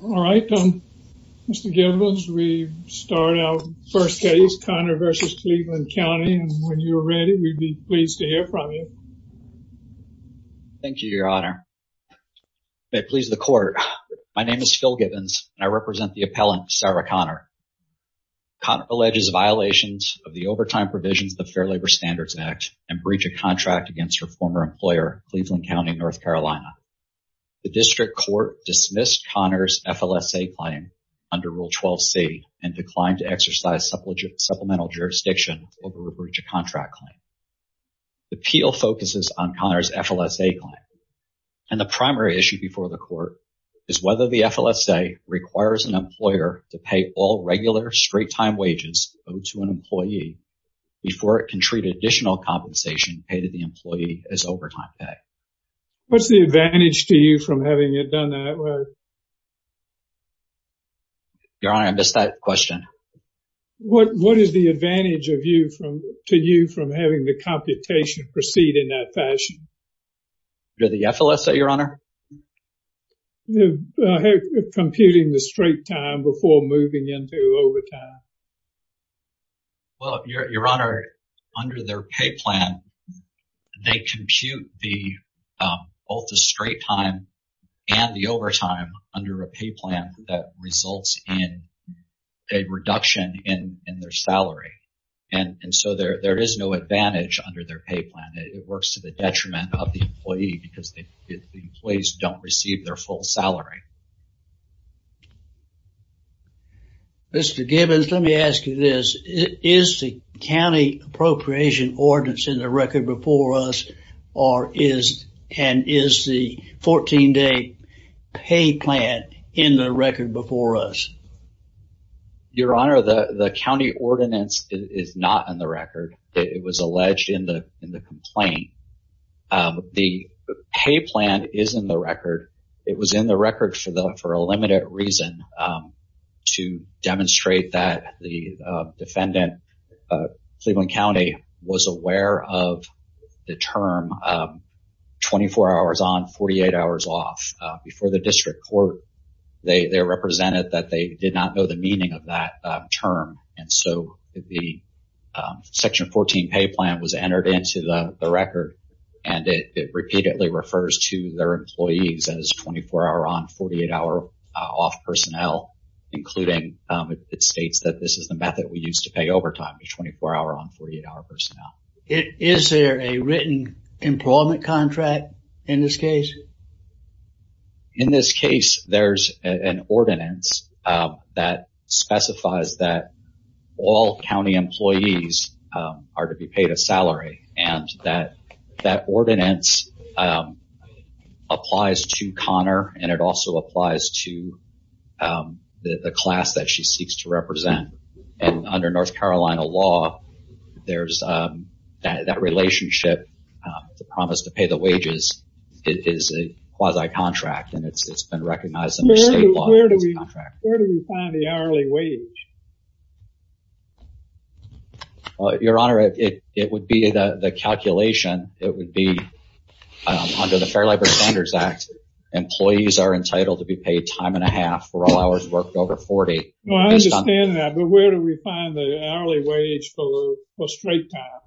All right, Mr. Gibbons, we start our first case, Conner v. Cleveland County, and when you're ready, we'd be pleased to hear from you. Thank you, Your Honor. May it please the Court, my name is Phil Gibbons, and I represent the appellant, Sarah Conner. Conner alleges violations of the overtime provisions of the Fair Labor Standards Act and breach of contract against her former employer, Cleveland County, NC. The District Court dismissed Conner's FLSA claim under Rule 12c and declined to exercise supplemental jurisdiction over a breach of contract claim. The appeal focuses on Conner's FLSA claim, and the primary issue before the Court is whether the FLSA requires an employer to pay all regular straight-time wages owed to an employee before it can treat additional compensation paid to the employee as overtime pay. What's the advantage to you from having it done that way? Your Honor, I missed that question. What is the advantage to you from having the computation proceed in that fashion? The FLSA, Your Honor? Computing the straight time before moving into overtime. Well, Your Honor, under their pay plan, they compute both the straight time and the overtime under a pay plan that results in a reduction in their salary. And so there is no advantage under their pay plan. It works to the detriment of the employee because the employees don't receive their full salary. Mr. Gibbons, let me ask you this. Is the county appropriation ordinance in the record before us, or is the 14-day pay plan in the record before us? Your Honor, the county ordinance is not in the record. It was alleged in the complaint. The pay plan is in the record. It was in the record for a limited reason to demonstrate that the defendant, Cleveland County, was aware of the term 24 hours on, 48 hours off. Before the district court, they represented that they did not know the meaning of that term. And so the Section 14 pay plan was entered into the record, and it repeatedly refers to their employees as 24-hour on, 48-hour off personnel, including it states that this is the method we use to pay overtime, 24-hour on, 48-hour personnel. Is there a written employment contract in this case? In this case, there's an ordinance that specifies that all county employees are to be paid a salary, and that that ordinance applies to Connor, and it also applies to the class that she seeks to represent. And under North Carolina law, there's that relationship, the promise to pay the wages is a quasi-contract, and it's been recognized under state law as a contract. Where do we find the hourly wage? Your Honor, it would be the calculation. It would be under the Fair Labor Standards Act. Employees are entitled to be paid time and a half for all hours worked over 40. I understand that, but where do we find the hourly wage for straight time?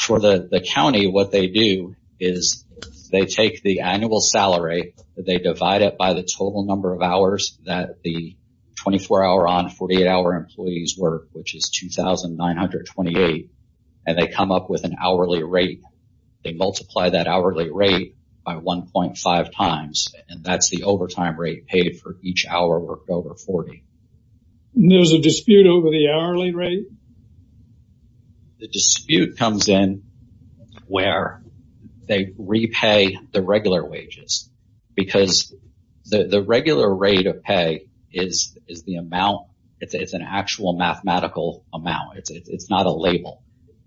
For the county, what they do is they take the annual salary, they divide it by the total number of hours that the 24-hour on, 48-hour employees work, which is 2,928. And they come up with an hourly rate. They multiply that hourly rate by 1.5 times, and that's the overtime rate paid for each hour worked over 40. And there's a dispute over the hourly rate? The dispute comes in where they repay the regular wages because the regular rate of pay is the amount. It's an actual mathematical amount. It's not a label,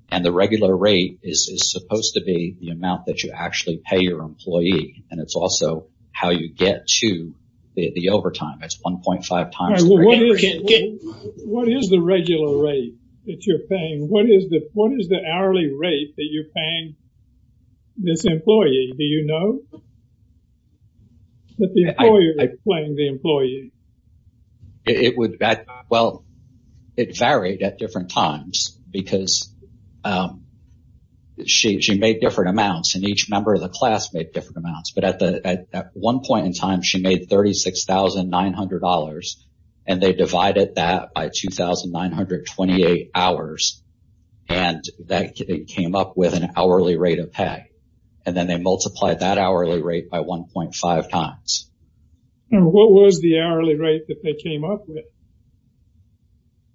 and the regular rate is supposed to be the amount that you actually pay your employee, and it's also how you get to the overtime. It's 1.5 times. What is the regular rate that you're paying? What is the hourly rate that you're paying this employee? Do you know that the employer is paying the employee? It varied at different times because she made different amounts, and each member of the class made different amounts. But at one point in time, she made $36,900, and they divided that by 2,928 hours, and that came up with an hourly rate of pay. And then they multiplied that hourly rate by 1.5 times. And what was the hourly rate that they came up with?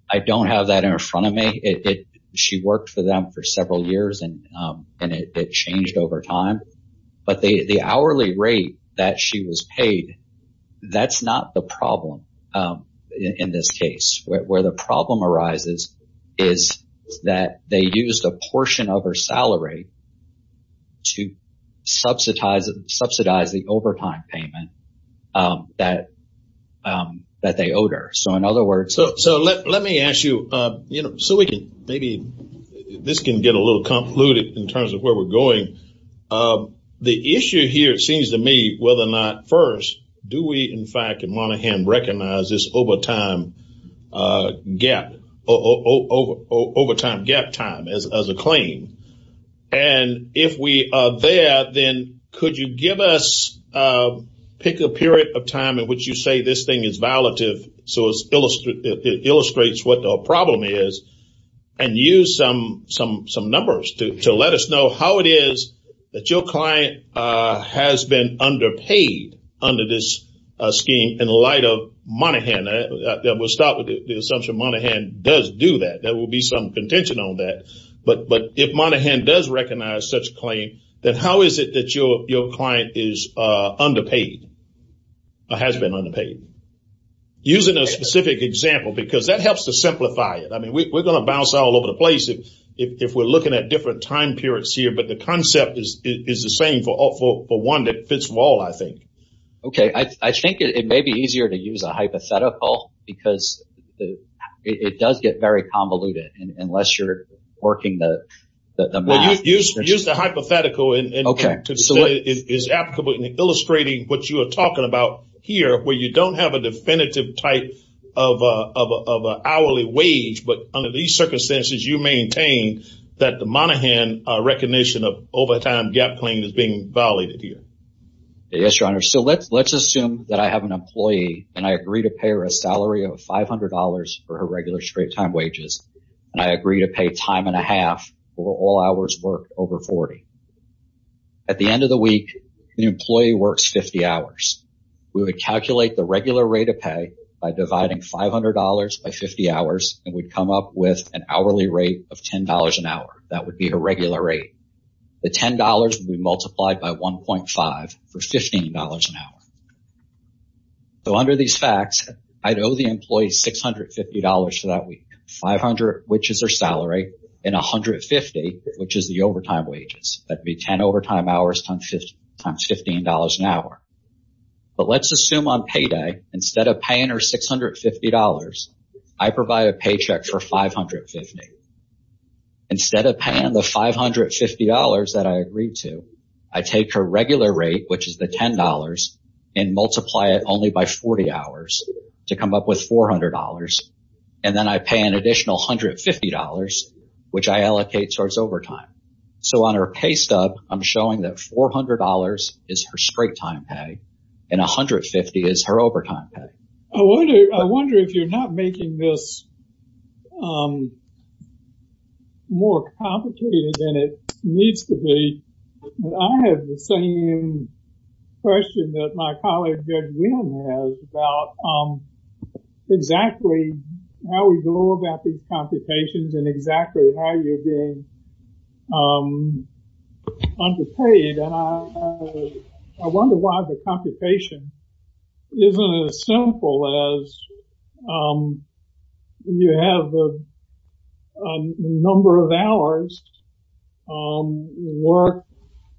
I don't have that in front of me. She worked for them for several years, and it changed over time. But the hourly rate that she was paid, that's not the problem in this case. Where the problem arises is that they used a portion of her salary to subsidize the overtime payment that they owed her. So let me ask you, so maybe this can get a little convoluted in terms of where we're going. The issue here, it seems to me, whether or not first, do we in fact in Monaghan recognize this overtime gap, overtime gap time as a claim? And if we are there, then could you give us, pick a period of time in which you say this thing is violative so it illustrates what the problem is, and use some numbers to let us know how it is that your client has been underpaid under this scheme in light of Monaghan. We'll start with the assumption Monaghan does do that. There will be some contention on that. But if Monaghan does recognize such a claim, then how is it that your client is underpaid or has been underpaid? Using a specific example, because that helps to simplify it. I mean, we're going to bounce all over the place if we're looking at different time periods here. But the concept is the same for one that fits them all, I think. OK, I think it may be easier to use a hypothetical because it does get very convoluted unless you're working the math. Use the hypothetical. OK, so it is applicable in illustrating what you are talking about here where you don't have a definitive type of hourly wage. But under these circumstances, you maintain that the Monaghan recognition of overtime gap claim is being violated here. Yes, Your Honor. So let's assume that I have an employee and I agree to pay her a salary of $500 for her regular straight time wages. And I agree to pay time and a half for all hours worked over 40. At the end of the week, the employee works 50 hours. We would calculate the regular rate of pay by dividing $500 by 50 hours and would come up with an hourly rate of $10 an hour. That would be a regular rate. The $10 would be multiplied by one point five for $15 an hour. So under these facts, I'd owe the employees $650 for that week, 500, which is their salary and 150, which is the overtime wages. That'd be 10 overtime hours times 50 times $15 an hour. But let's assume on payday instead of paying her $650. I provide a paycheck for 550. Instead of paying the $550 that I agreed to, I take her regular rate, which is the $10 and multiply it only by 40 hours to come up with $400. And then I pay an additional $150, which I allocate towards overtime. So on her pay stub, I'm showing that $400 is her straight time pay and 150 is her overtime pay. I wonder if you're not making this more complicated than it needs to be. I have the same question that my colleague has about exactly how we go about these computations and exactly how you're being underpaid. I wonder why the computation isn't as simple as you have a number of hours work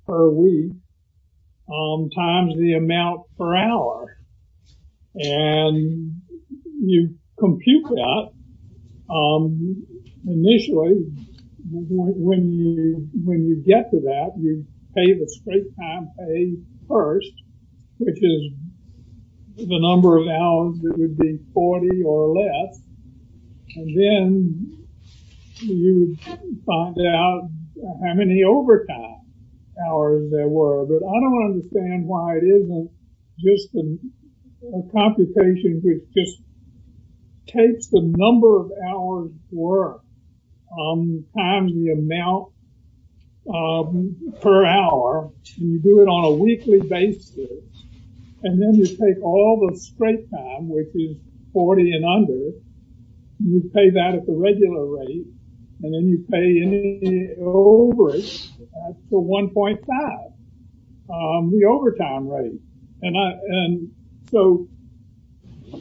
per week times the amount per hour. And you compute that initially. When you get to that, you pay the straight time pay first, which is the number of hours that would be 40 or less. And then you find out how many overtime hours there were. But I don't understand why it isn't just a computation which just takes the number of hours work times the amount per hour. You do it on a weekly basis. And then you take all the straight time, which is 40 and under. You pay that at the regular rate. And then you pay any overage for 1.5, the overtime rate. And so,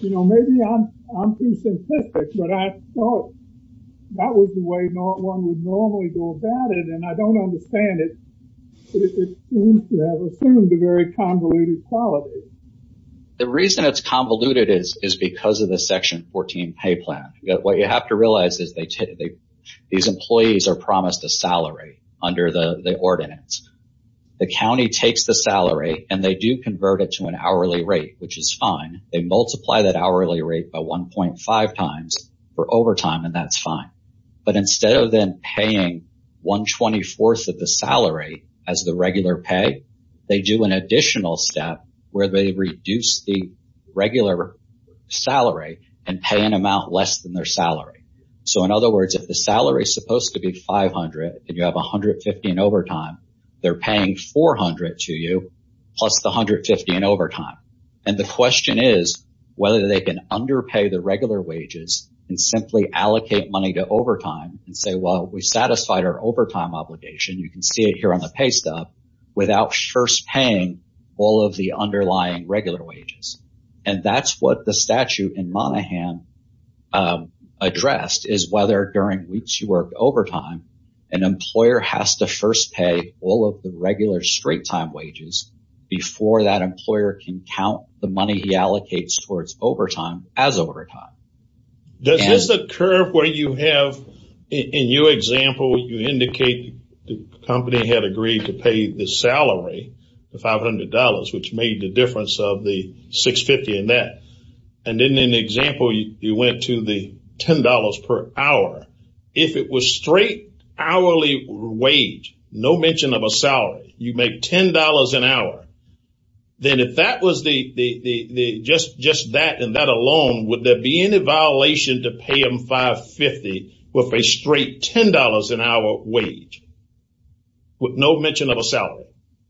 you know, maybe I'm too simplistic, but I thought that was the way one would normally go about it. And I don't understand it. It seems to have assumed a very convoluted quality. The reason it's convoluted is because of the Section 14 pay plan. What you have to realize is these employees are promised a salary under the ordinance. The county takes the salary and they do convert it to an hourly rate, which is fine. They multiply that hourly rate by 1.5 times for overtime, and that's fine. But instead of then paying 1.24 of the salary as the regular pay, they do an additional step where they reduce the regular salary and pay an amount less than their salary. So, in other words, if the salary is supposed to be 500 and you have 150 in overtime, they're paying 400 to you plus the 150 in overtime. And the question is whether they can underpay the regular wages and simply allocate money to overtime and say, well, we satisfied our overtime obligation. You can see it here on the pay stuff without first paying all of the underlying regular wages. And that's what the statute in Monaghan addressed is whether during weeks you work overtime, an employer has to first pay all of the regular straight time wages before that employer can count the money he allocates towards overtime as overtime. Does this occur where you have, in your example, you indicate the company had agreed to pay the salary of $500, which made the difference of the 650 in that. And then in the example, you went to the $10 per hour. If it was straight hourly wage, no mention of a salary, you make $10 an hour, then if that was just that and that alone, would there be any violation to pay them 550 with a straight $10 an hour wage with no mention of a salary?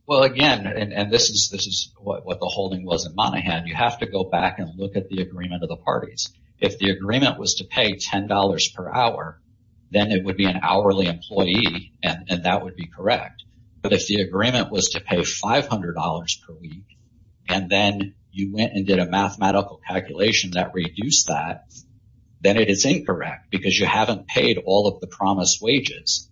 Well, again, and this is what the holding was in Monaghan. You have to go back and look at the agreement of the parties. If the agreement was to pay $10 per hour, then it would be an hourly employee. And that would be correct. But if the agreement was to pay $500 per week and then you went and did a mathematical calculation that reduced that, then it is incorrect because you haven't paid all of the promised wages.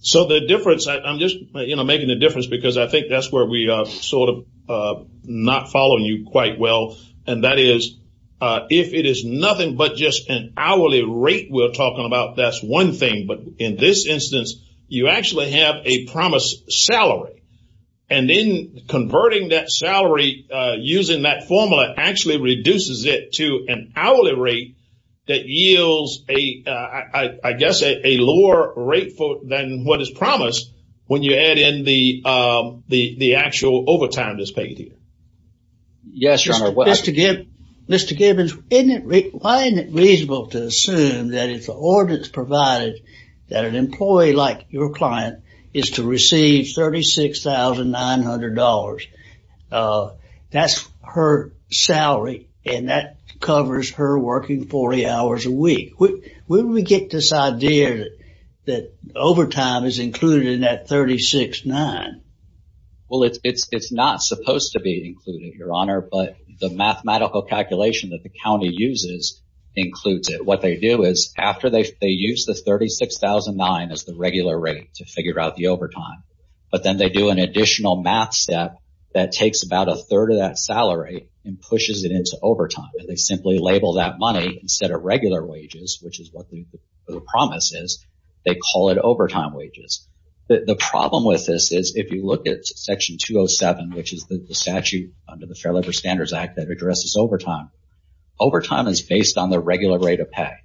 So the difference I'm just making a difference because I think that's where we sort of not following you quite well. And that is if it is nothing but just an hourly rate we're talking about, that's one thing. But in this instance, you actually have a promised salary. And then converting that salary using that formula actually reduces it to an hourly rate that yields a, I guess, a lower rate than what is promised when you add in the actual overtime that's paid here. Yes, Your Honor. Mr. Gibbons, why isn't it reasonable to assume that it's the ordinance provided that an employee like your client is to receive $36,900? That's her salary and that covers her working 40 hours a week. Where do we get this idea that overtime is included in that $36,900? Well, it's not supposed to be included, Your Honor, but the mathematical calculation that the county uses includes it. What they do is after they use the $36,900 as the regular rate to figure out the overtime, but then they do an additional math step that takes about a third of that salary and pushes it into overtime. They simply label that money instead of regular wages, which is what the promise is. They call it overtime wages. The problem with this is if you look at Section 207, which is the statute under the Fair Labor Standards Act that addresses overtime, overtime is based on the regular rate of pay.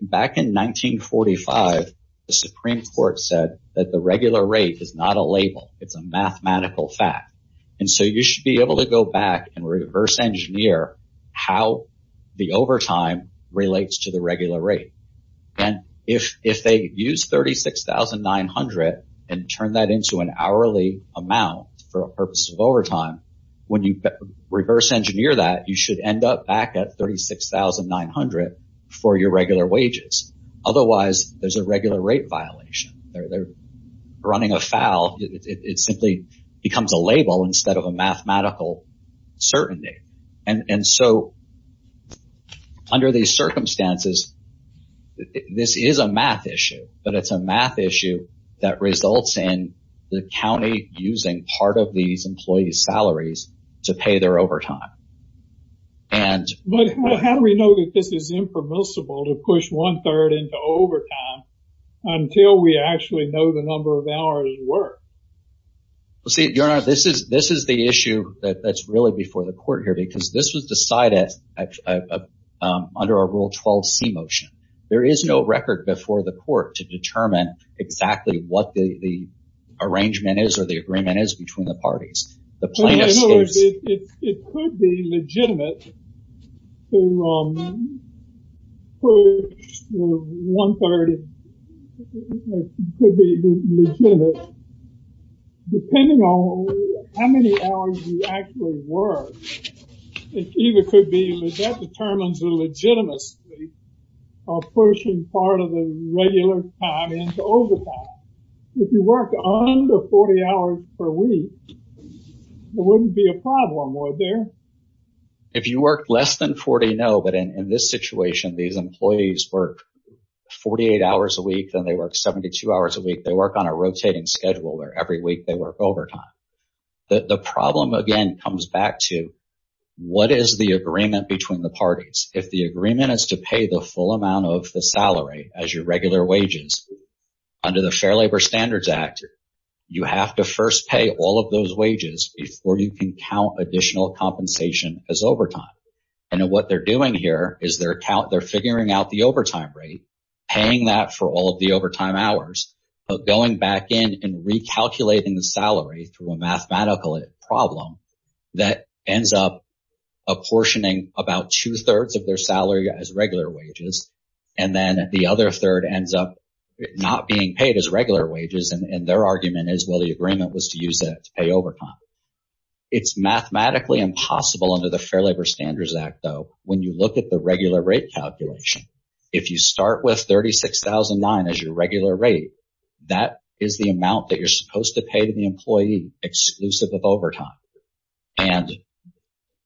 Back in 1945, the Supreme Court said that the regular rate is not a label. It's a mathematical fact. And so you should be able to go back and reverse engineer how the overtime relates to the regular rate. If they use $36,900 and turn that into an hourly amount for the purpose of overtime, when you reverse engineer that, you should end up back at $36,900 for your regular wages. Otherwise, there's a regular rate violation. They're running afoul. It simply becomes a label instead of a mathematical certainty. And so under these circumstances, this is a math issue, but it's a math issue that results in the county using part of these employees' salaries to pay their overtime. But how do we know that this is impermissible to push one third into overtime until we actually know the number of hours worked? See, Your Honor, this is the issue that's really before the court here, because this was decided under a Rule 12c motion. There is no record before the court to determine exactly what the arrangement is or the agreement is between the parties. In other words, it could be legitimate to push one third. It could be legitimate, depending on how many hours you actually work. It either could be that determines the legitimacy of pushing part of the regular time into overtime. If you work under 40 hours per week, it wouldn't be a problem, would there? If you work less than 40, no. But in this situation, these employees work 48 hours a week, then they work 72 hours a week. They work on a rotating schedule where every week they work overtime. The problem, again, comes back to what is the agreement between the parties? If the agreement is to pay the full amount of the salary as your regular wages under the Fair Labor Standards Act, you have to first pay all of those wages before you can count additional compensation as overtime. And what they're doing here is they're figuring out the overtime rate, paying that for all of the overtime hours. But going back in and recalculating the salary through a mathematical problem that ends up apportioning about two thirds of their salary as regular wages, and then the other third ends up not being paid as regular wages. And their argument is, well, the agreement was to use that to pay overtime. It's mathematically impossible under the Fair Labor Standards Act, though. When you look at the regular rate calculation, if you start with $36,000 as your regular rate, that is the amount that you're supposed to pay to the employee exclusive of overtime. And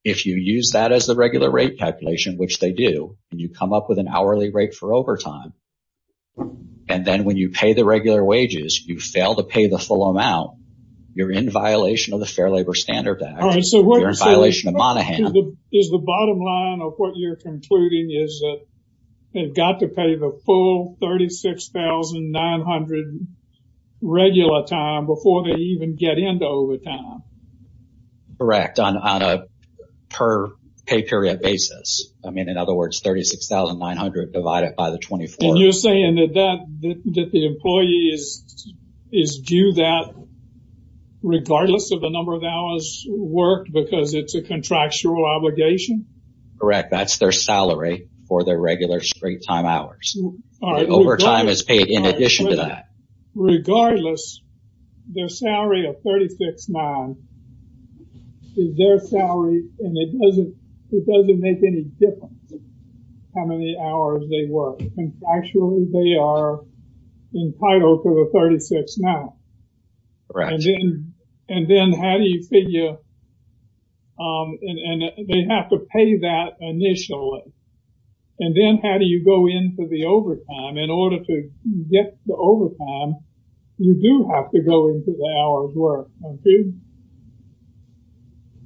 if you use that as the regular rate calculation, which they do, and you come up with an hourly rate for overtime, and then when you pay the regular wages, you fail to pay the full amount, you're in violation of the Fair Labor Standards Act. You're in violation of Monahan. Is the bottom line of what you're concluding is that they've got to pay the full $36,900 regular time before they even get into overtime? Correct, on a per pay period basis. I mean, in other words, $36,900 divided by the 24. And you're saying that the employee is due that regardless of the number of hours worked because it's a contractual obligation? Correct, that's their salary for their regular springtime hours. Overtime is paid in addition to that. Regardless, their salary of $36,900 is their salary, and it doesn't make any difference how many hours they work. Actually, they are entitled to the $36,900. Right. And then how do you figure, and they have to pay that initially, and then how do you go into the overtime? In order to get the overtime, you do have to go into the hours worked, don't you?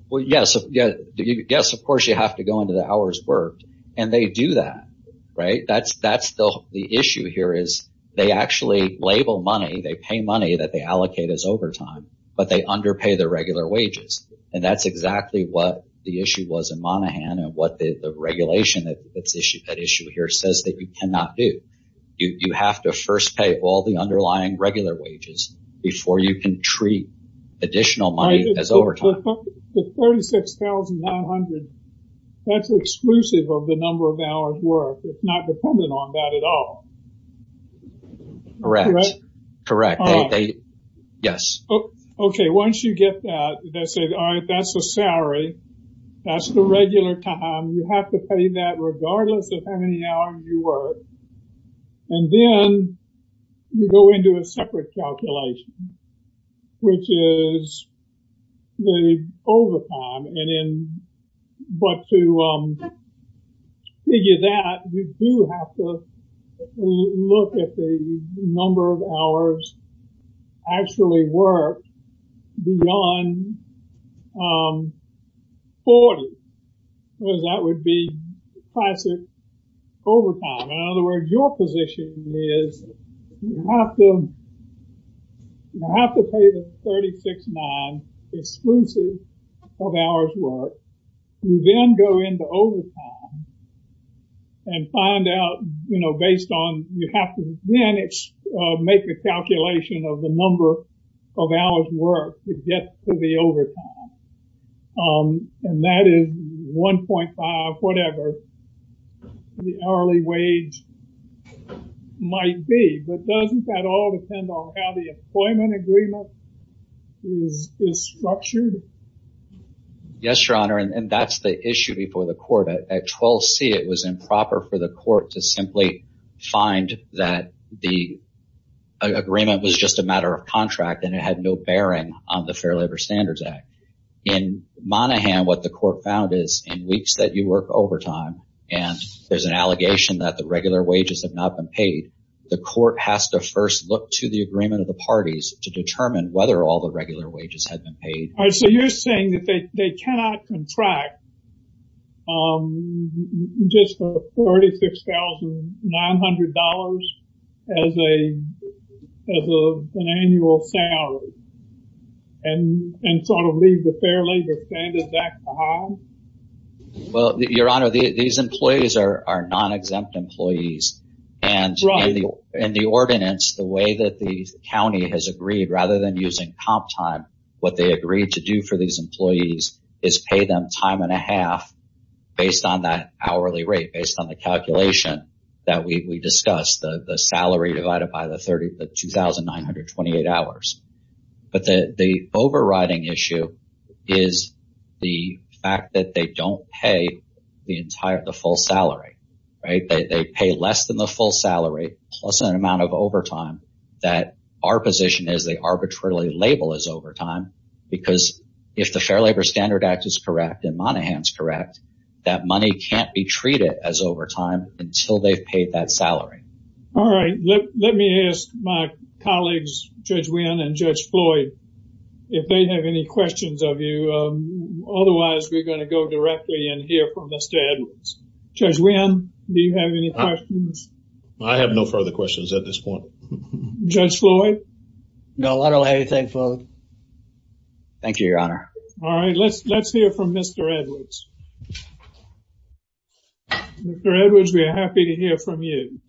Well, yes. Yes, of course, you have to go into the hours worked, and they do that. The issue here is they actually label money, they pay money that they allocate as overtime, but they underpay the regular wages. And that's exactly what the issue was in Monaghan and what the regulation that issue here says that you cannot do. You have to first pay all the underlying regular wages before you can treat additional money as overtime. The $36,900, that's exclusive of the number of hours worked. It's not dependent on that at all. Correct. Correct. Yes. Okay. Once you get that, they say, all right, that's the salary. That's the regular time. You have to pay that regardless of how many hours you work. And then you go into a separate calculation, which is the overtime. But to figure that, you do have to look at the number of hours actually worked beyond 40, because that would be classic overtime. In other words, your position is you have to pay the $36,900 exclusive of hours worked. You then go into overtime and find out, you know, based on, you have to then make a calculation of the number of hours worked to get to the overtime. And that is 1.5, whatever the hourly wage might be. But doesn't that all depend on how the employment agreement is structured? Yes, Your Honor. And that's the issue before the court. At 12C, it was improper for the court to simply find that the agreement was just a matter of contract and it had no bearing on the Fair Labor Standards Act. In Monaghan, what the court found is in weeks that you work overtime and there's an allegation that the regular wages have not been paid, the court has to first look to the agreement of the parties to determine whether all the regular wages had been paid. So you're saying that they cannot contract just for $36,900 as an annual salary and sort of leave the Fair Labor Standards Act behind? Well, Your Honor, these employees are non-exempt employees. And in the ordinance, the way that the county has agreed, rather than using comp time, what they agreed to do for these employees is pay them time and a half based on that hourly rate, based on the calculation that we discussed, the salary divided by the 2,928 hours. But the overriding issue is the fact that they don't pay the entire, the full salary, right? They pay less than the full salary plus an amount of overtime that our position is they arbitrarily label as overtime because if the Fair Labor Standards Act is correct and Monaghan's correct, that money can't be treated as overtime until they've paid that salary. All right, let me ask my colleagues, Judge Wynn and Judge Floyd, if they have any questions of you. Otherwise, we're going to go directly and hear from Mr. Edwards. Judge Wynn, do you have any questions? I have no further questions at this point. Judge Floyd? No, I don't have anything further. Thank you, Your Honor. All right, let's hear from Mr. Edwards. Mr. Edwards, we are happy to hear from you.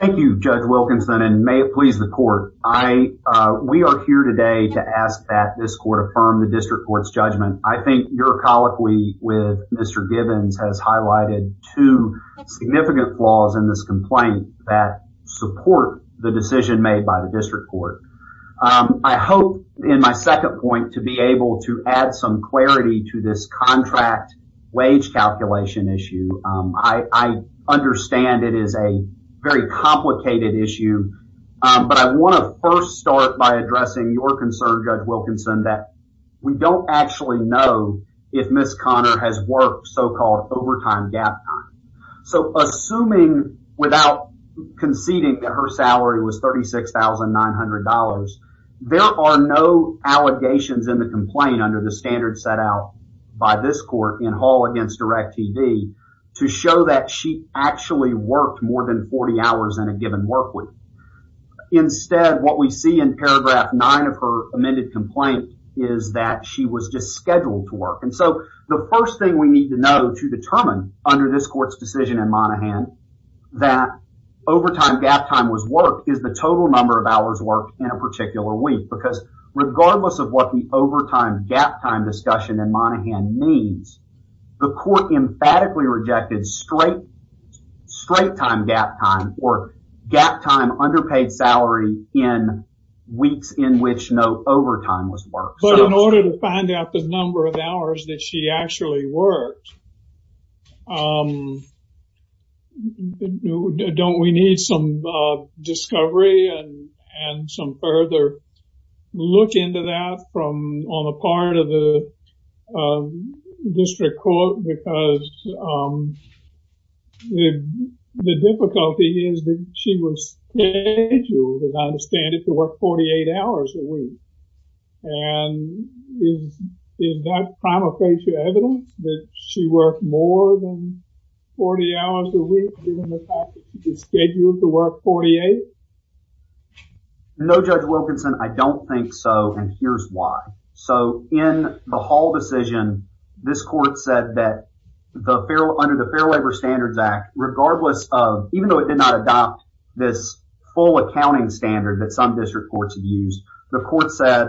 Thank you, Judge Wilkinson, and may it please the court. We are here today to ask that this court affirm the district court's judgment. I think your colloquy with Mr. Gibbons has highlighted two significant flaws in this complaint that support the decision made by the district court. I hope in my second point to be able to add some clarity to this contract wage calculation issue. I understand it is a very complicated issue, but I want to first start by addressing your concern, Judge Wilkinson, that we don't actually know if Ms. Connor has worked so-called overtime gap time. So, assuming without conceding that her salary was $36,900, there are no allegations in the complaint under the standard set out by this court in Hall against Direct TV to show that she actually worked more than 40 hours in a given work week. Instead, what we see in paragraph 9 of her amended complaint is that she was just scheduled to work. So, the first thing we need to know to determine under this court's decision in Monaghan that overtime gap time was worked is the total number of hours worked in a particular week. Because regardless of what the overtime gap time discussion in Monaghan means, the court emphatically rejected straight time gap time or gap time underpaid salary in weeks in which no overtime was worked. But in order to find out the number of hours that she actually worked, don't we need some discovery and some further look into that on the part of the district court? No, Judge Wilkinson, I don't think so. And here's why. So, in the Hall decision, this court said that under the Fair Labor Standards Act, regardless of, even though it did not adopt this full accounting standard that some district courts have used, the court said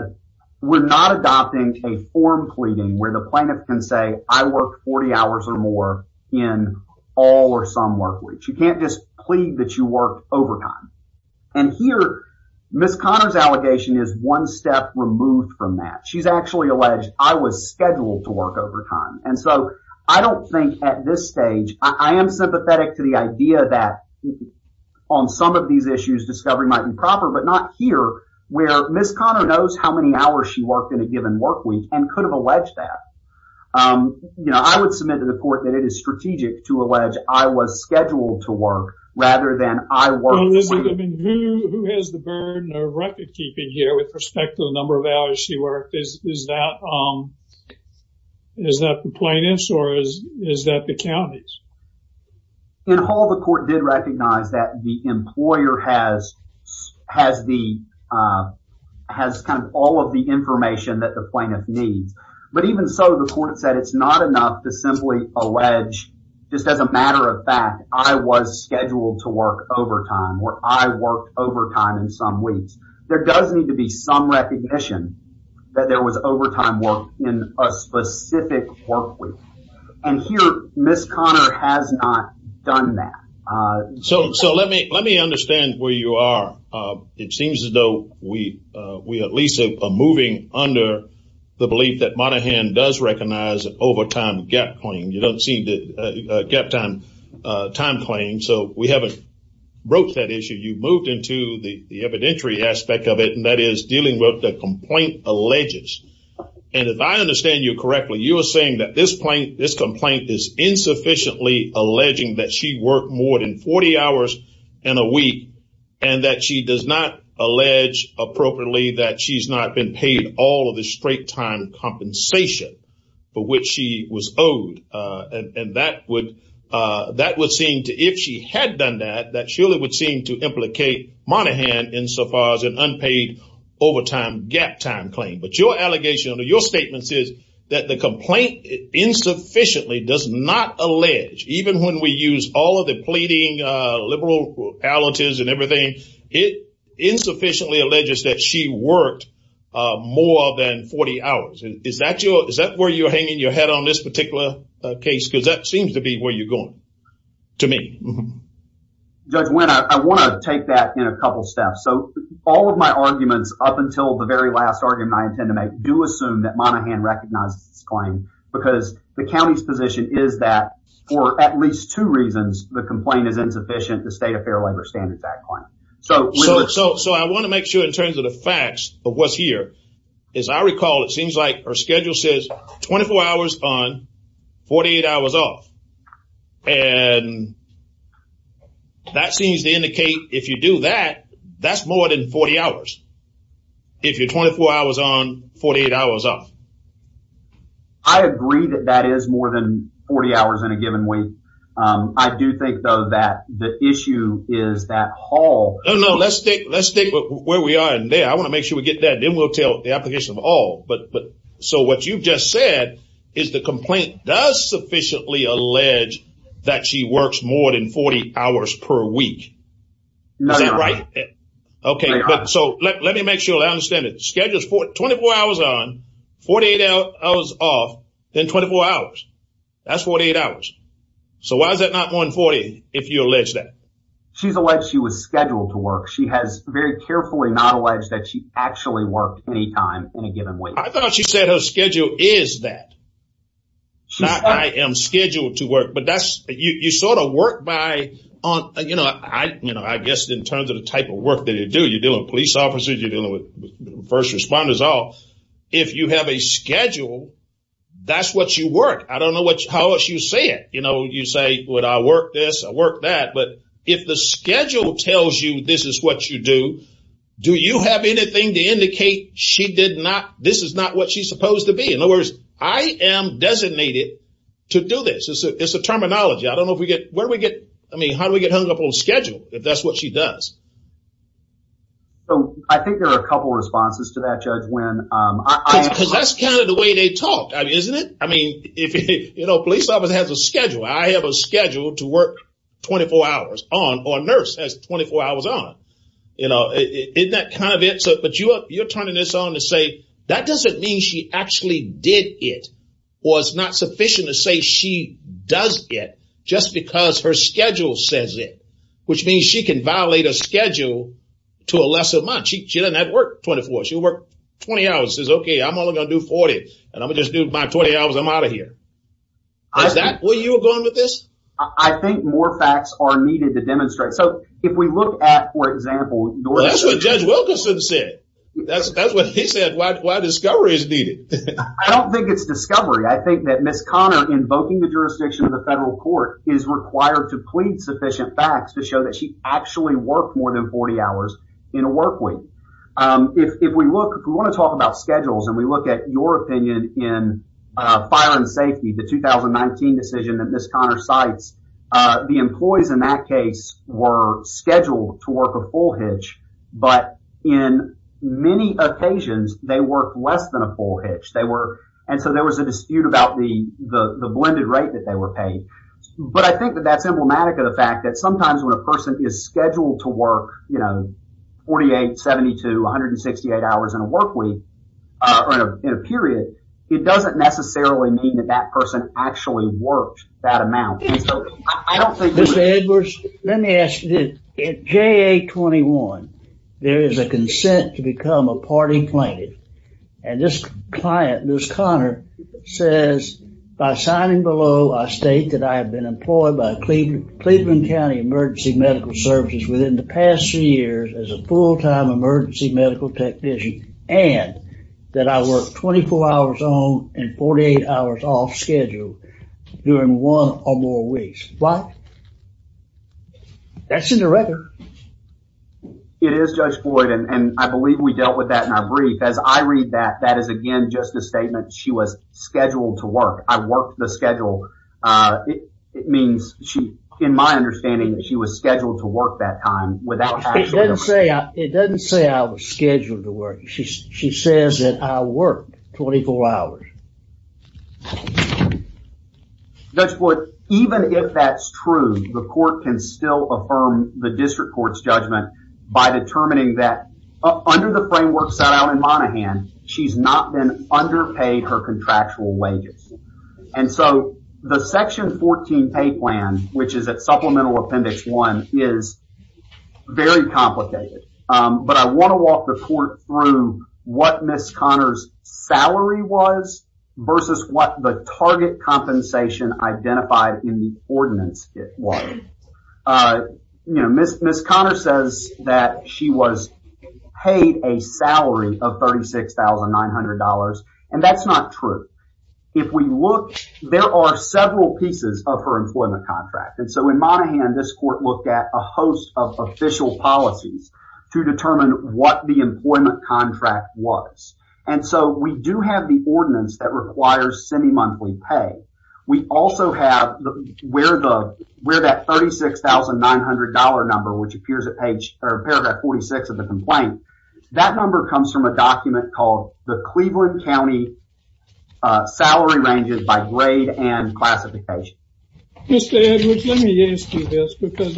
we're not adopting a form pleading where the plaintiff can say I worked 40 hours or more in all or some work weeks. You can't just plead that you worked overtime. And here, Ms. Conner's allegation is one step removed from that. She's actually alleged I was scheduled to work overtime. And so, I don't think at this stage, I am sympathetic to the idea that on some of these issues, discovery might be proper, but not here where Ms. Conner knows how many hours she worked in a given work week and could have alleged that. You know, I would submit to the court that it is strategic to allege I was scheduled to work rather than I worked. Who has the burden of record keeping here with respect to the number of hours she worked? Is that the plaintiff's or is that the county's? In Hall, the court did recognize that the employer has kind of all of the information that the plaintiff needs, but even so, the court said it's not enough to simply allege, just as a matter of fact, I was scheduled to work overtime or I worked overtime in some weeks. There does need to be some recognition that there was overtime work in a specific work week. And here, Ms. Conner has not done that. So, let me understand where you are. It seems as though we at least are moving under the belief that Monaghan does recognize an overtime gap claim. You don't see a gap time claim. So, we haven't broached that issue. You've moved into the evidentiary aspect of it, and that is dealing with the complaint alleges. And if I understand you correctly, you are saying that this complaint is insufficiently alleging that she worked more than 40 hours in a week and that she does not allege appropriately that she's not been paid all of the straight time compensation for which she was owed. And that would seem to, if she had done that, that surely would seem to implicate Monaghan insofar as an unpaid overtime gap time claim. But your allegation under your statement says that the complaint insufficiently does not allege, even when we use all of the pleading liberal alleges and everything, it insufficiently alleges that she worked more than 40 hours. Is that where you're hanging your head on this particular case? Because that seems to be where you're going, to me. Judge Wynn, I want to take that in a couple steps. So, all of my arguments up until the very last argument I intend to make do assume that Monaghan recognizes this claim because the county's position is that for at least two reasons, the complaint is insufficient to state a fair labor standards act claim. So, I want to make sure in terms of the facts of what's here. As I recall, it seems like her schedule says 24 hours on, 48 hours off. And that seems to indicate if you do that, that's more than 40 hours. If you're 24 hours on, 48 hours off. I agree that that is more than 40 hours in a given week. I do think, though, that the issue is that haul. No, no. Let's stick where we are in there. I want to make sure we get that. Then we'll tell the application of all. So, what you've just said is the complaint does sufficiently allege that she works more than 40 hours per week. Is that right? Okay. So, let me make sure I understand it. Schedules for 24 hours on, 48 hours off, then 24 hours. That's 48 hours. So, why is that not more than 40 if you allege that? She's alleged she was scheduled to work. She has very carefully not alleged that she actually worked any time in a given week. I thought she said her schedule is that. Not I am scheduled to work. You sort of work by, I guess in terms of the type of work that you do. You're dealing with police officers. You're dealing with first responders. If you have a schedule, that's what you work. I don't know how else you say it. You say, would I work this? I work that. But if the schedule tells you this is what you do, do you have anything to indicate she did not, this is not what she's supposed to be? In other words, I am designated to do this. It's a terminology. I don't know if we get, where do we get, I mean, how do we get hung up on schedule if that's what she does? So, I think there are a couple of responses to that, Judge Wynn. Because that's kind of the way they talk, isn't it? I mean, you know, a police officer has a schedule. I have a schedule to work 24 hours on, or a nurse has 24 hours on. Isn't that kind of it? But you're turning this on to say that doesn't mean she actually did it, or it's not sufficient to say she does it just because her schedule says it, which means she can violate a schedule to a lesser amount. She doesn't have to work 24. She'll work 20 hours and says, okay, I'm only going to do 40, and I'm going to just do my 20 hours and I'm out of here. Is that where you're going with this? I think more facts are needed to demonstrate. So, if we look at, for example, That's what Judge Wilkinson said. That's what he said, why discovery is needed. I don't think it's discovery. I think that Ms. Conner invoking the jurisdiction of the federal court is required to plead sufficient facts to show that she actually worked more than 40 hours in a work week. If we look, we want to talk about schedules and we look at your opinion in fire and safety, the 2019 decision that Ms. Conner cites, the employees in that case were scheduled to work a full hitch. But in many occasions, they work less than a full hitch. They were. And so there was a dispute about the blended rate that they were paid. But I think that that's emblematic of the fact that sometimes when a person is scheduled to work, you know, 48, 72, 168 hours in a work week or in a period, it doesn't necessarily mean that that person actually worked that amount. Mr. Edwards, let me ask you, at JA 21, there is a consent to become a party plaintiff. And this client, Ms. Conner, says by signing below, I state that I have been employed by Cleveland County Emergency Medical Services within the past three years as a full time emergency medical technician. And that I work 24 hours on and 48 hours off schedule during one or more weeks. Why? That's in the record. It is, Judge Floyd. And I believe we dealt with that in our brief. As I read that, that is, again, just a statement. She was scheduled to work. I work the schedule. It means she, in my understanding, she was scheduled to work that time without. It doesn't say I was scheduled to work. She says that I work 24 hours. Judge Floyd, even if that's true, the court can still affirm the district court's judgment by determining that under the framework set out in Monaghan, she's not been underpaid her contractual wages. And so the Section 14 pay plan, which is at Supplemental Appendix 1, is very complicated. But I want to walk the court through what Ms. Conner's salary was versus what the target compensation identified in the ordinance was. Ms. Conner says that she was paid a salary of $36,900. And that's not true. If we look, there are several pieces of her employment contract. And so in Monaghan, this court looked at a host of official policies to determine what the employment contract was. And so we do have the ordinance that requires semi-monthly pay. We also have where that $36,900 number, which appears at paragraph 46 of the complaint, that number comes from a document called the Cleveland County Salary Ranges by Grade and Classification. Mr. Edwards, let me ask you this, because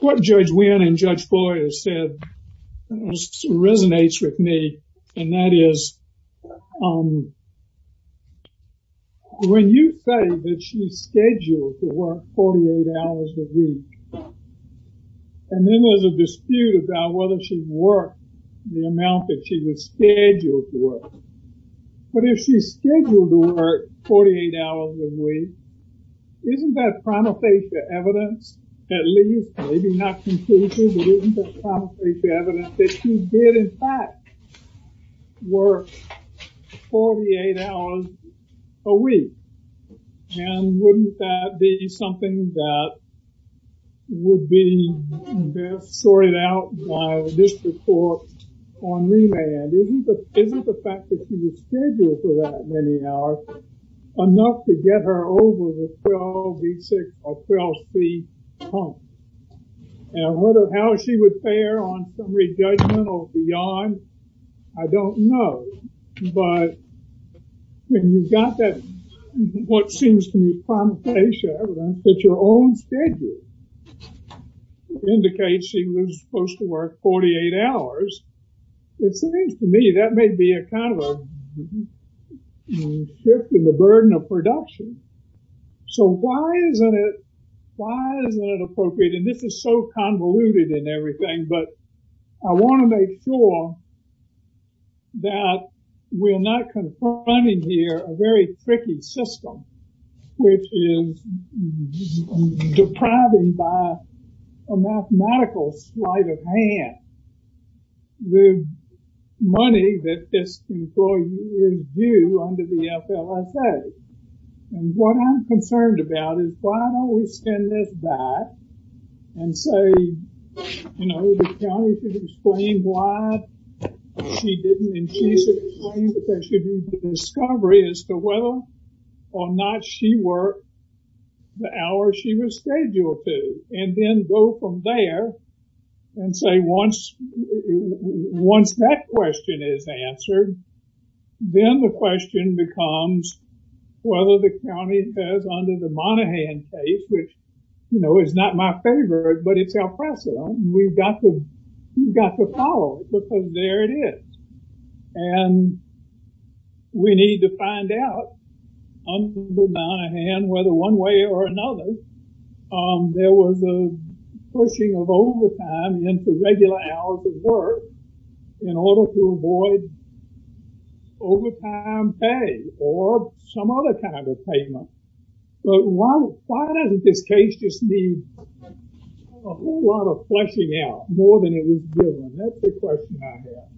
what Judge Wynn and Judge Boyer said resonates with me. And that is, when you say that she's scheduled to work 48 hours a week, and then there's a dispute about whether she worked the amount that she was scheduled to work. But if she's scheduled to work 48 hours a week, isn't that prima facie evidence, at least, maybe not conclusive, but isn't that prima facie evidence that she did, in fact, work 48 hours a week? And wouldn't that be something that would be best sorted out by this report on remand? Isn't the fact that she was scheduled for that many hours enough to get her over the 12V6 or 12C pump? And how she would fare on summary judgment or beyond, I don't know. But when you've got that, what seems to me, prima facie evidence that your own schedule indicates she was supposed to work 48 hours, it seems to me that may be a kind of a shift in the burden of production. So why isn't it appropriate, and this is so convoluted and everything, but I want to make sure that we're not confronting here a very tricky system, which is depriving by a mathematical sleight of hand the money that this employee is due under the FLSA. And what I'm concerned about is why don't we send this back and say, you know, the county should explain why she didn't, and she should explain that there should be a discovery as to whether or not she worked the hour she was scheduled to. And then go from there and say, once that question is answered, then the question becomes whether the county says under the Monaghan case, which, you know, is not my favorite, but it's our precedent, we've got to follow it because there it is. And we need to find out, under Monaghan, whether one way or another, there was a pushing of overtime into regular hours of work in order to avoid overtime pay or some other kind of payment. But why doesn't this case just need a whole lot of fleshing out more than it was given? That's the question I have.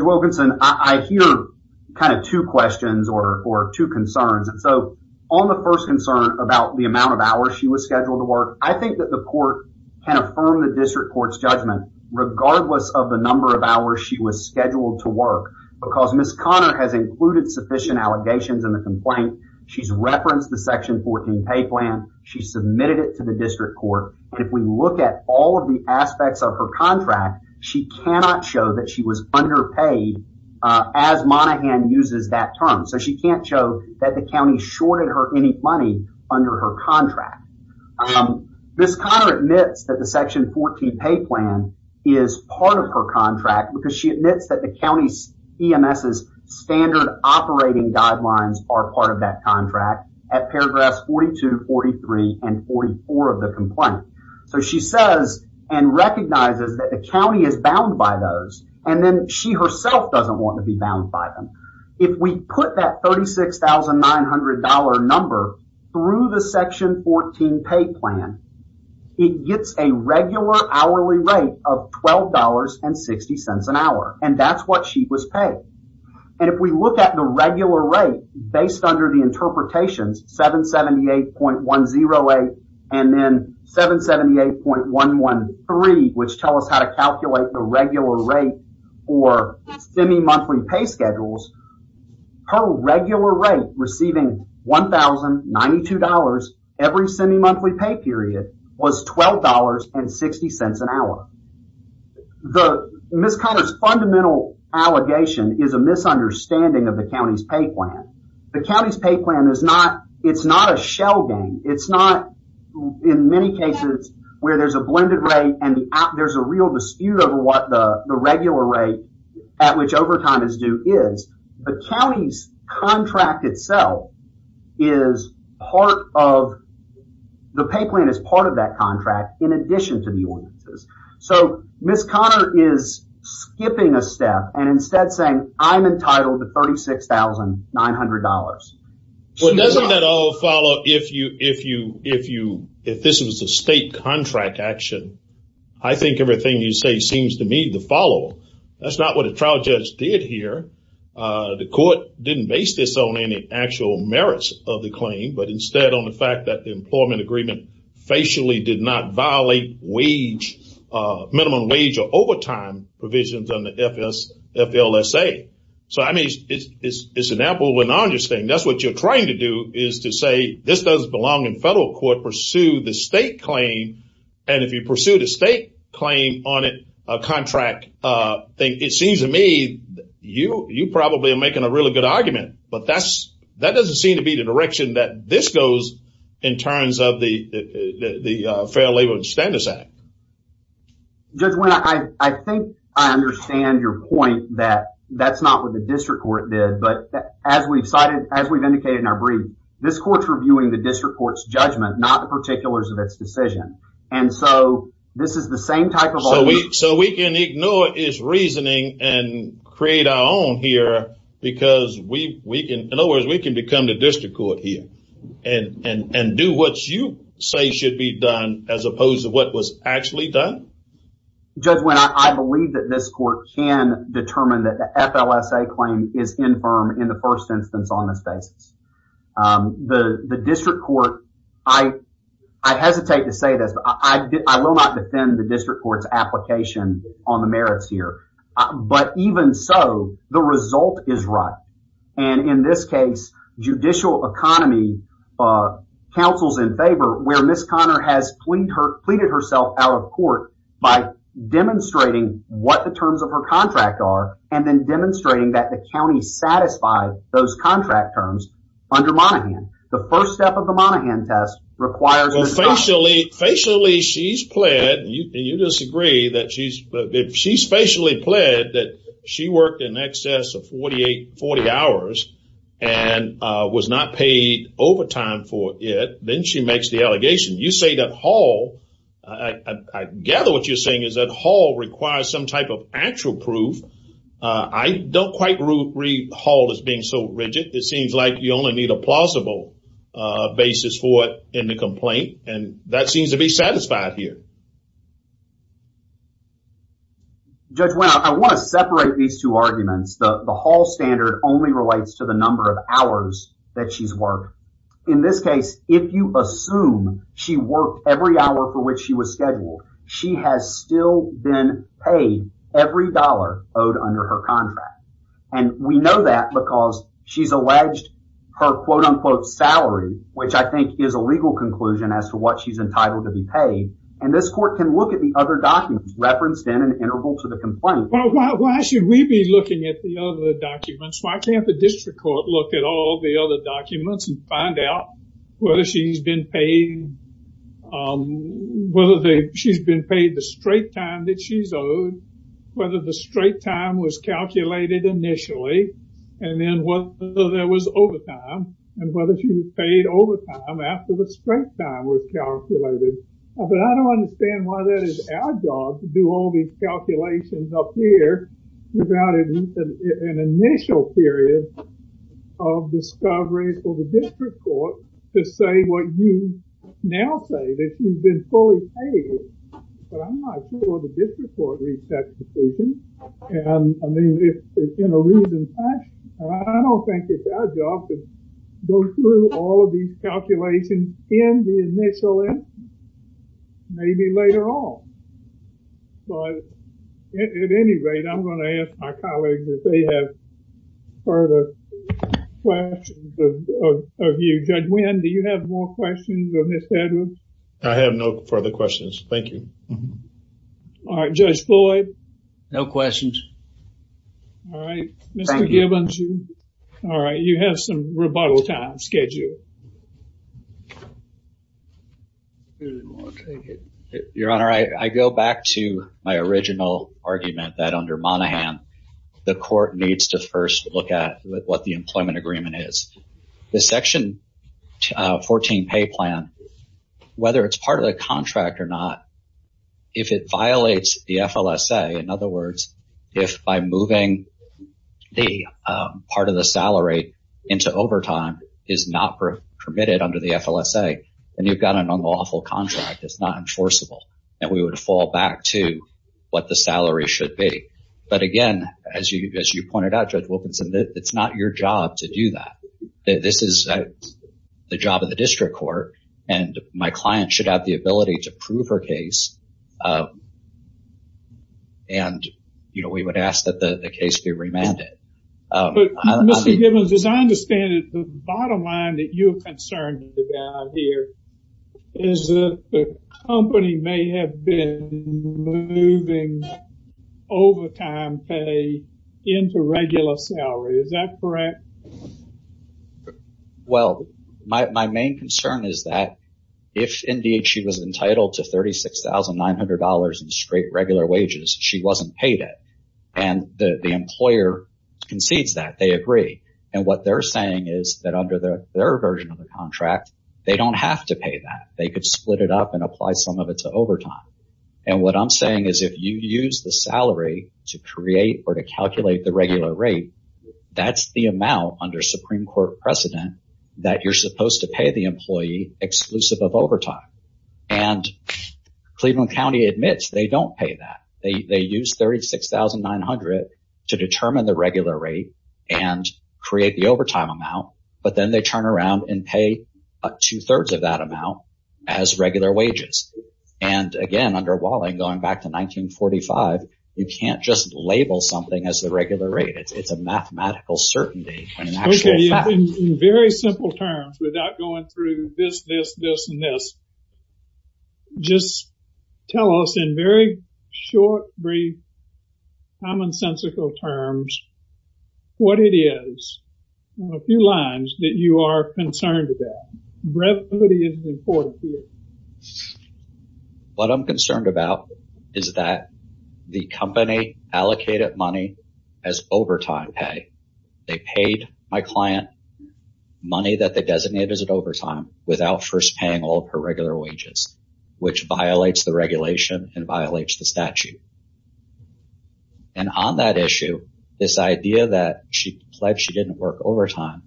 Judge Wilkinson, I hear kind of two questions or two concerns. And so on the first concern about the amount of hours she was scheduled to work, I think that the court can affirm the district court's judgment, regardless of the number of hours she was scheduled to work. Because Ms. Connor has included sufficient allegations in the complaint. She's referenced the Section 14 pay plan. She submitted it to the district court. If we look at all of the aspects of her contract, she cannot show that she was underpaid as Monaghan uses that term. So she can't show that the county shorted her any money under her contract. Ms. Connor admits that the Section 14 pay plan is part of her contract because she admits that the county's EMS's standard operating guidelines are part of that contract at paragraphs 42, 43, and 44 of the complaint. So she says and recognizes that the county is bound by those. And then she herself doesn't want to be bound by them. If we put that $36,900 number through the Section 14 pay plan, it gets a regular hourly rate of $12.60 an hour. And that's what she was paid. And if we look at the regular rate based under the interpretations, 778.108 and then 778.113, which tell us how to calculate the regular rate or semi-monthly pay schedules, her regular rate receiving $1,092 every semi-monthly pay period was $12.60 an hour. Ms. Connor's fundamental allegation is a misunderstanding of the county's pay plan. The county's pay plan is not, it's not a shell game. It's not, in many cases, where there's a blended rate and there's a real dispute over what the regular rate at which overtime is due is. The county's contract itself is part of, the pay plan is part of that contract in addition to the EMS's. So, Ms. Connor is skipping a step and instead saying, I'm entitled to $36,900. Well, doesn't that all follow if you, if you, if you, if this was a state contract action, I think everything you say seems to me to follow. That's not what a trial judge did here. The court didn't base this on any actual merits of the claim, but instead on the fact that the employment agreement facially did not violate wage, minimum wage or overtime provisions on the FLSA. So, I mean, it's an apple and orange thing. That's what you're trying to do is to say this doesn't belong in federal court. Pursue the state claim. And if you pursue the state claim on a contract thing, it seems to me you, you probably are making a really good argument. But that's, that doesn't seem to be the direction that this goes in terms of the Fair Labor Standards Act. Judge Wynne, I think I understand your point that that's not what the district court did. But as we've cited, as we've indicated in our brief, this court's reviewing the district court's judgment, not the particulars of its decision. And so this is the same type of. So we so we can ignore his reasoning and create our own here because we we can. In other words, we can become the district court here and and do what you say should be done, as opposed to what was actually done. Judge Wynne, I believe that this court can determine that the FLSA claim is infirm in the first instance on this basis. The district court, I I hesitate to say this, but I will not defend the district court's application on the merits here. But even so, the result is right. And in this case, judicial economy counsels in favor where Miss Conner has plead her pleaded herself out of court by demonstrating what the terms of her contract are. And then demonstrating that the county satisfied those contract terms under Monaghan. The first step of the Monaghan test requires officially, facially. She's pled and you disagree that she's she's facially pled that she worked in excess of 48, 40 hours and was not paid overtime for it. Then she makes the allegation. You say that Hall, I gather what you're saying is that Hall requires some type of actual proof. I don't quite read Hall as being so rigid. It seems like you only need a plausible basis for it in the complaint. And that seems to be satisfied here. Judge Wynne, I want to separate these two arguments. The Hall standard only relates to the number of hours that she's worked. In this case, if you assume she worked every hour for which she was scheduled, she has still been paid every dollar owed under her contract. And we know that because she's alleged her quote unquote salary, which I think is a legal conclusion as to what she's entitled to be paid. And this court can look at the other documents referenced in an interval to the complaint. Why should we be looking at the other documents? Why can't the district court look at all the other documents and find out whether she's been paid the straight time that she's owed, whether the straight time was calculated initially, and then whether there was overtime, and whether she was paid overtime after the straight time was calculated. But I don't understand why that is our job to do all these calculations up here without an initial period of discovery for the district court to say what you now say, that she's been fully paid. But I'm not sure the district court reached that decision. I don't think it's our job to go through all of these calculations in the initial instance, maybe later on. But at any rate, I'm going to ask my colleagues if they have further questions of you. Judge Wynn, do you have more questions of Ms. Edwards? I have no further questions. Thank you. All right, Judge Floyd. No questions. All right, Mr. Gibbons. All right, you have some rebuttal time scheduled. Your Honor, I go back to my original argument that under Monaghan, the court needs to first look at what the employment agreement is. The Section 14 pay plan, whether it's part of the contract or not, if it violates the FLSA, in other words, if by moving part of the salary into overtime is not permitted under the FLSA, then you've got an unlawful contract. It's not enforceable. And we would fall back to what the salary should be. But again, as you pointed out, Judge Wilkinson, it's not your job to do that. This is the job of the district court. And my client should have the ability to prove her case. And, you know, we would ask that the case be remanded. Mr. Gibbons, as I understand it, the bottom line that you are concerned about here is that the company may have been moving overtime pay into regular salary. Is that correct? Well, my main concern is that if indeed she was entitled to thirty six thousand nine hundred dollars in straight regular wages, she wasn't paid it. And the employer concedes that they agree. And what they're saying is that under their version of the contract, they don't have to pay that. They could split it up and apply some of it to overtime. And what I'm saying is if you use the salary to create or to calculate the regular rate, that's the amount under Supreme Court precedent that you're supposed to pay the employee exclusive of overtime. And Cleveland County admits they don't pay that. They use thirty six thousand nine hundred to determine the regular rate and create the overtime amount. But then they turn around and pay two thirds of that amount as regular wages. And again, under Walling, going back to 1945, you can't just label something as the regular rate. It's a mathematical certainty. In very simple terms, without going through this, this, this and this. Just tell us in very short, brief, commonsensical terms what it is. A few lines that you are concerned about. Brevity is important. What I'm concerned about is that the company allocated money as overtime pay. They paid my client money that they designated as an overtime without first paying all of her regular wages, which violates the regulation and violates the statute. And on that issue, this idea that she pledged she didn't work overtime,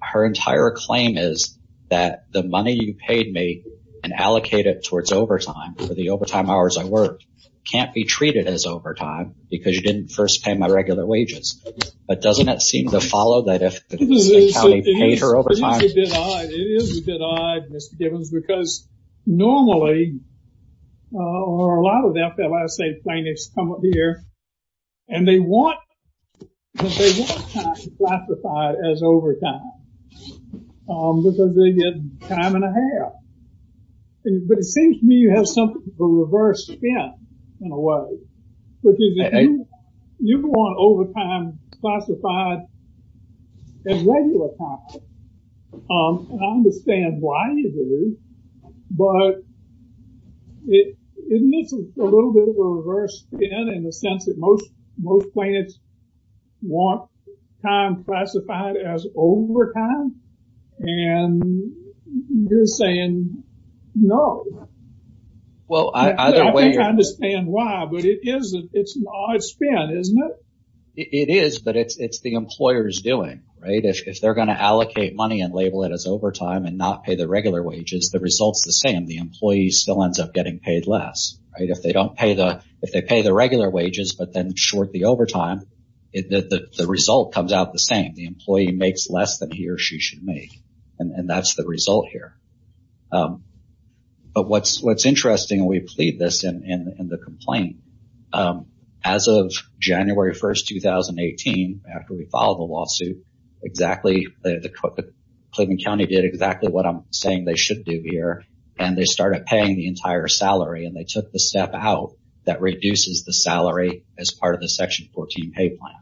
her entire claim is that the money you paid me and allocated towards overtime for the overtime hours I worked can't be treated as overtime because you didn't first pay my regular wages. But doesn't that seem to follow that if the county paid her overtime? It is a bit odd. It is a bit odd, Mr. Givens, because normally, or a lot of that, a lot of state plaintiffs come up here and they want time classified as overtime. Because they get time and a half. But it seems to me you have something of a reverse spin in a way. You want overtime classified as regular time. And I understand why you do. But isn't this a little bit of a reverse spin in the sense that most plaintiffs want time classified as overtime? And you're saying no. Well, I don't understand why, but it is. It's an odd spin, isn't it? It is. But it's the employers doing right. If they're going to allocate money and label it as overtime and not pay the regular wages, the results the same. The employee still ends up getting paid less. Right. If they don't pay the if they pay the regular wages, but then short the overtime, the result comes out the same. The employee makes less than he or she should make. And that's the result here. But what's what's interesting, we plead this in the complaint. As of January 1st, 2018, after we filed the lawsuit, exactly. Cleveland County did exactly what I'm saying they should do here. And they started paying the entire salary and they took the step out that reduces the salary as part of the Section 14 pay plan.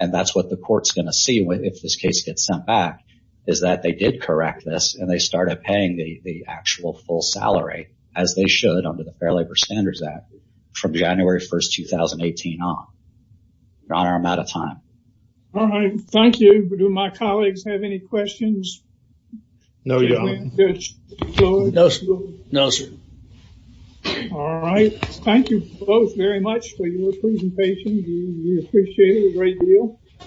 And that's what the court's going to see if this case gets sent back, is that they did correct this and they started paying the actual full salary as they should under the Fair Labor Standards Act from January 1st, 2018 on. Your Honor, I'm out of time. All right. Thank you. Do my colleagues have any questions? No, Your Honor. No, sir. All right. Thank you both very much for your presentation. We appreciate it a great deal.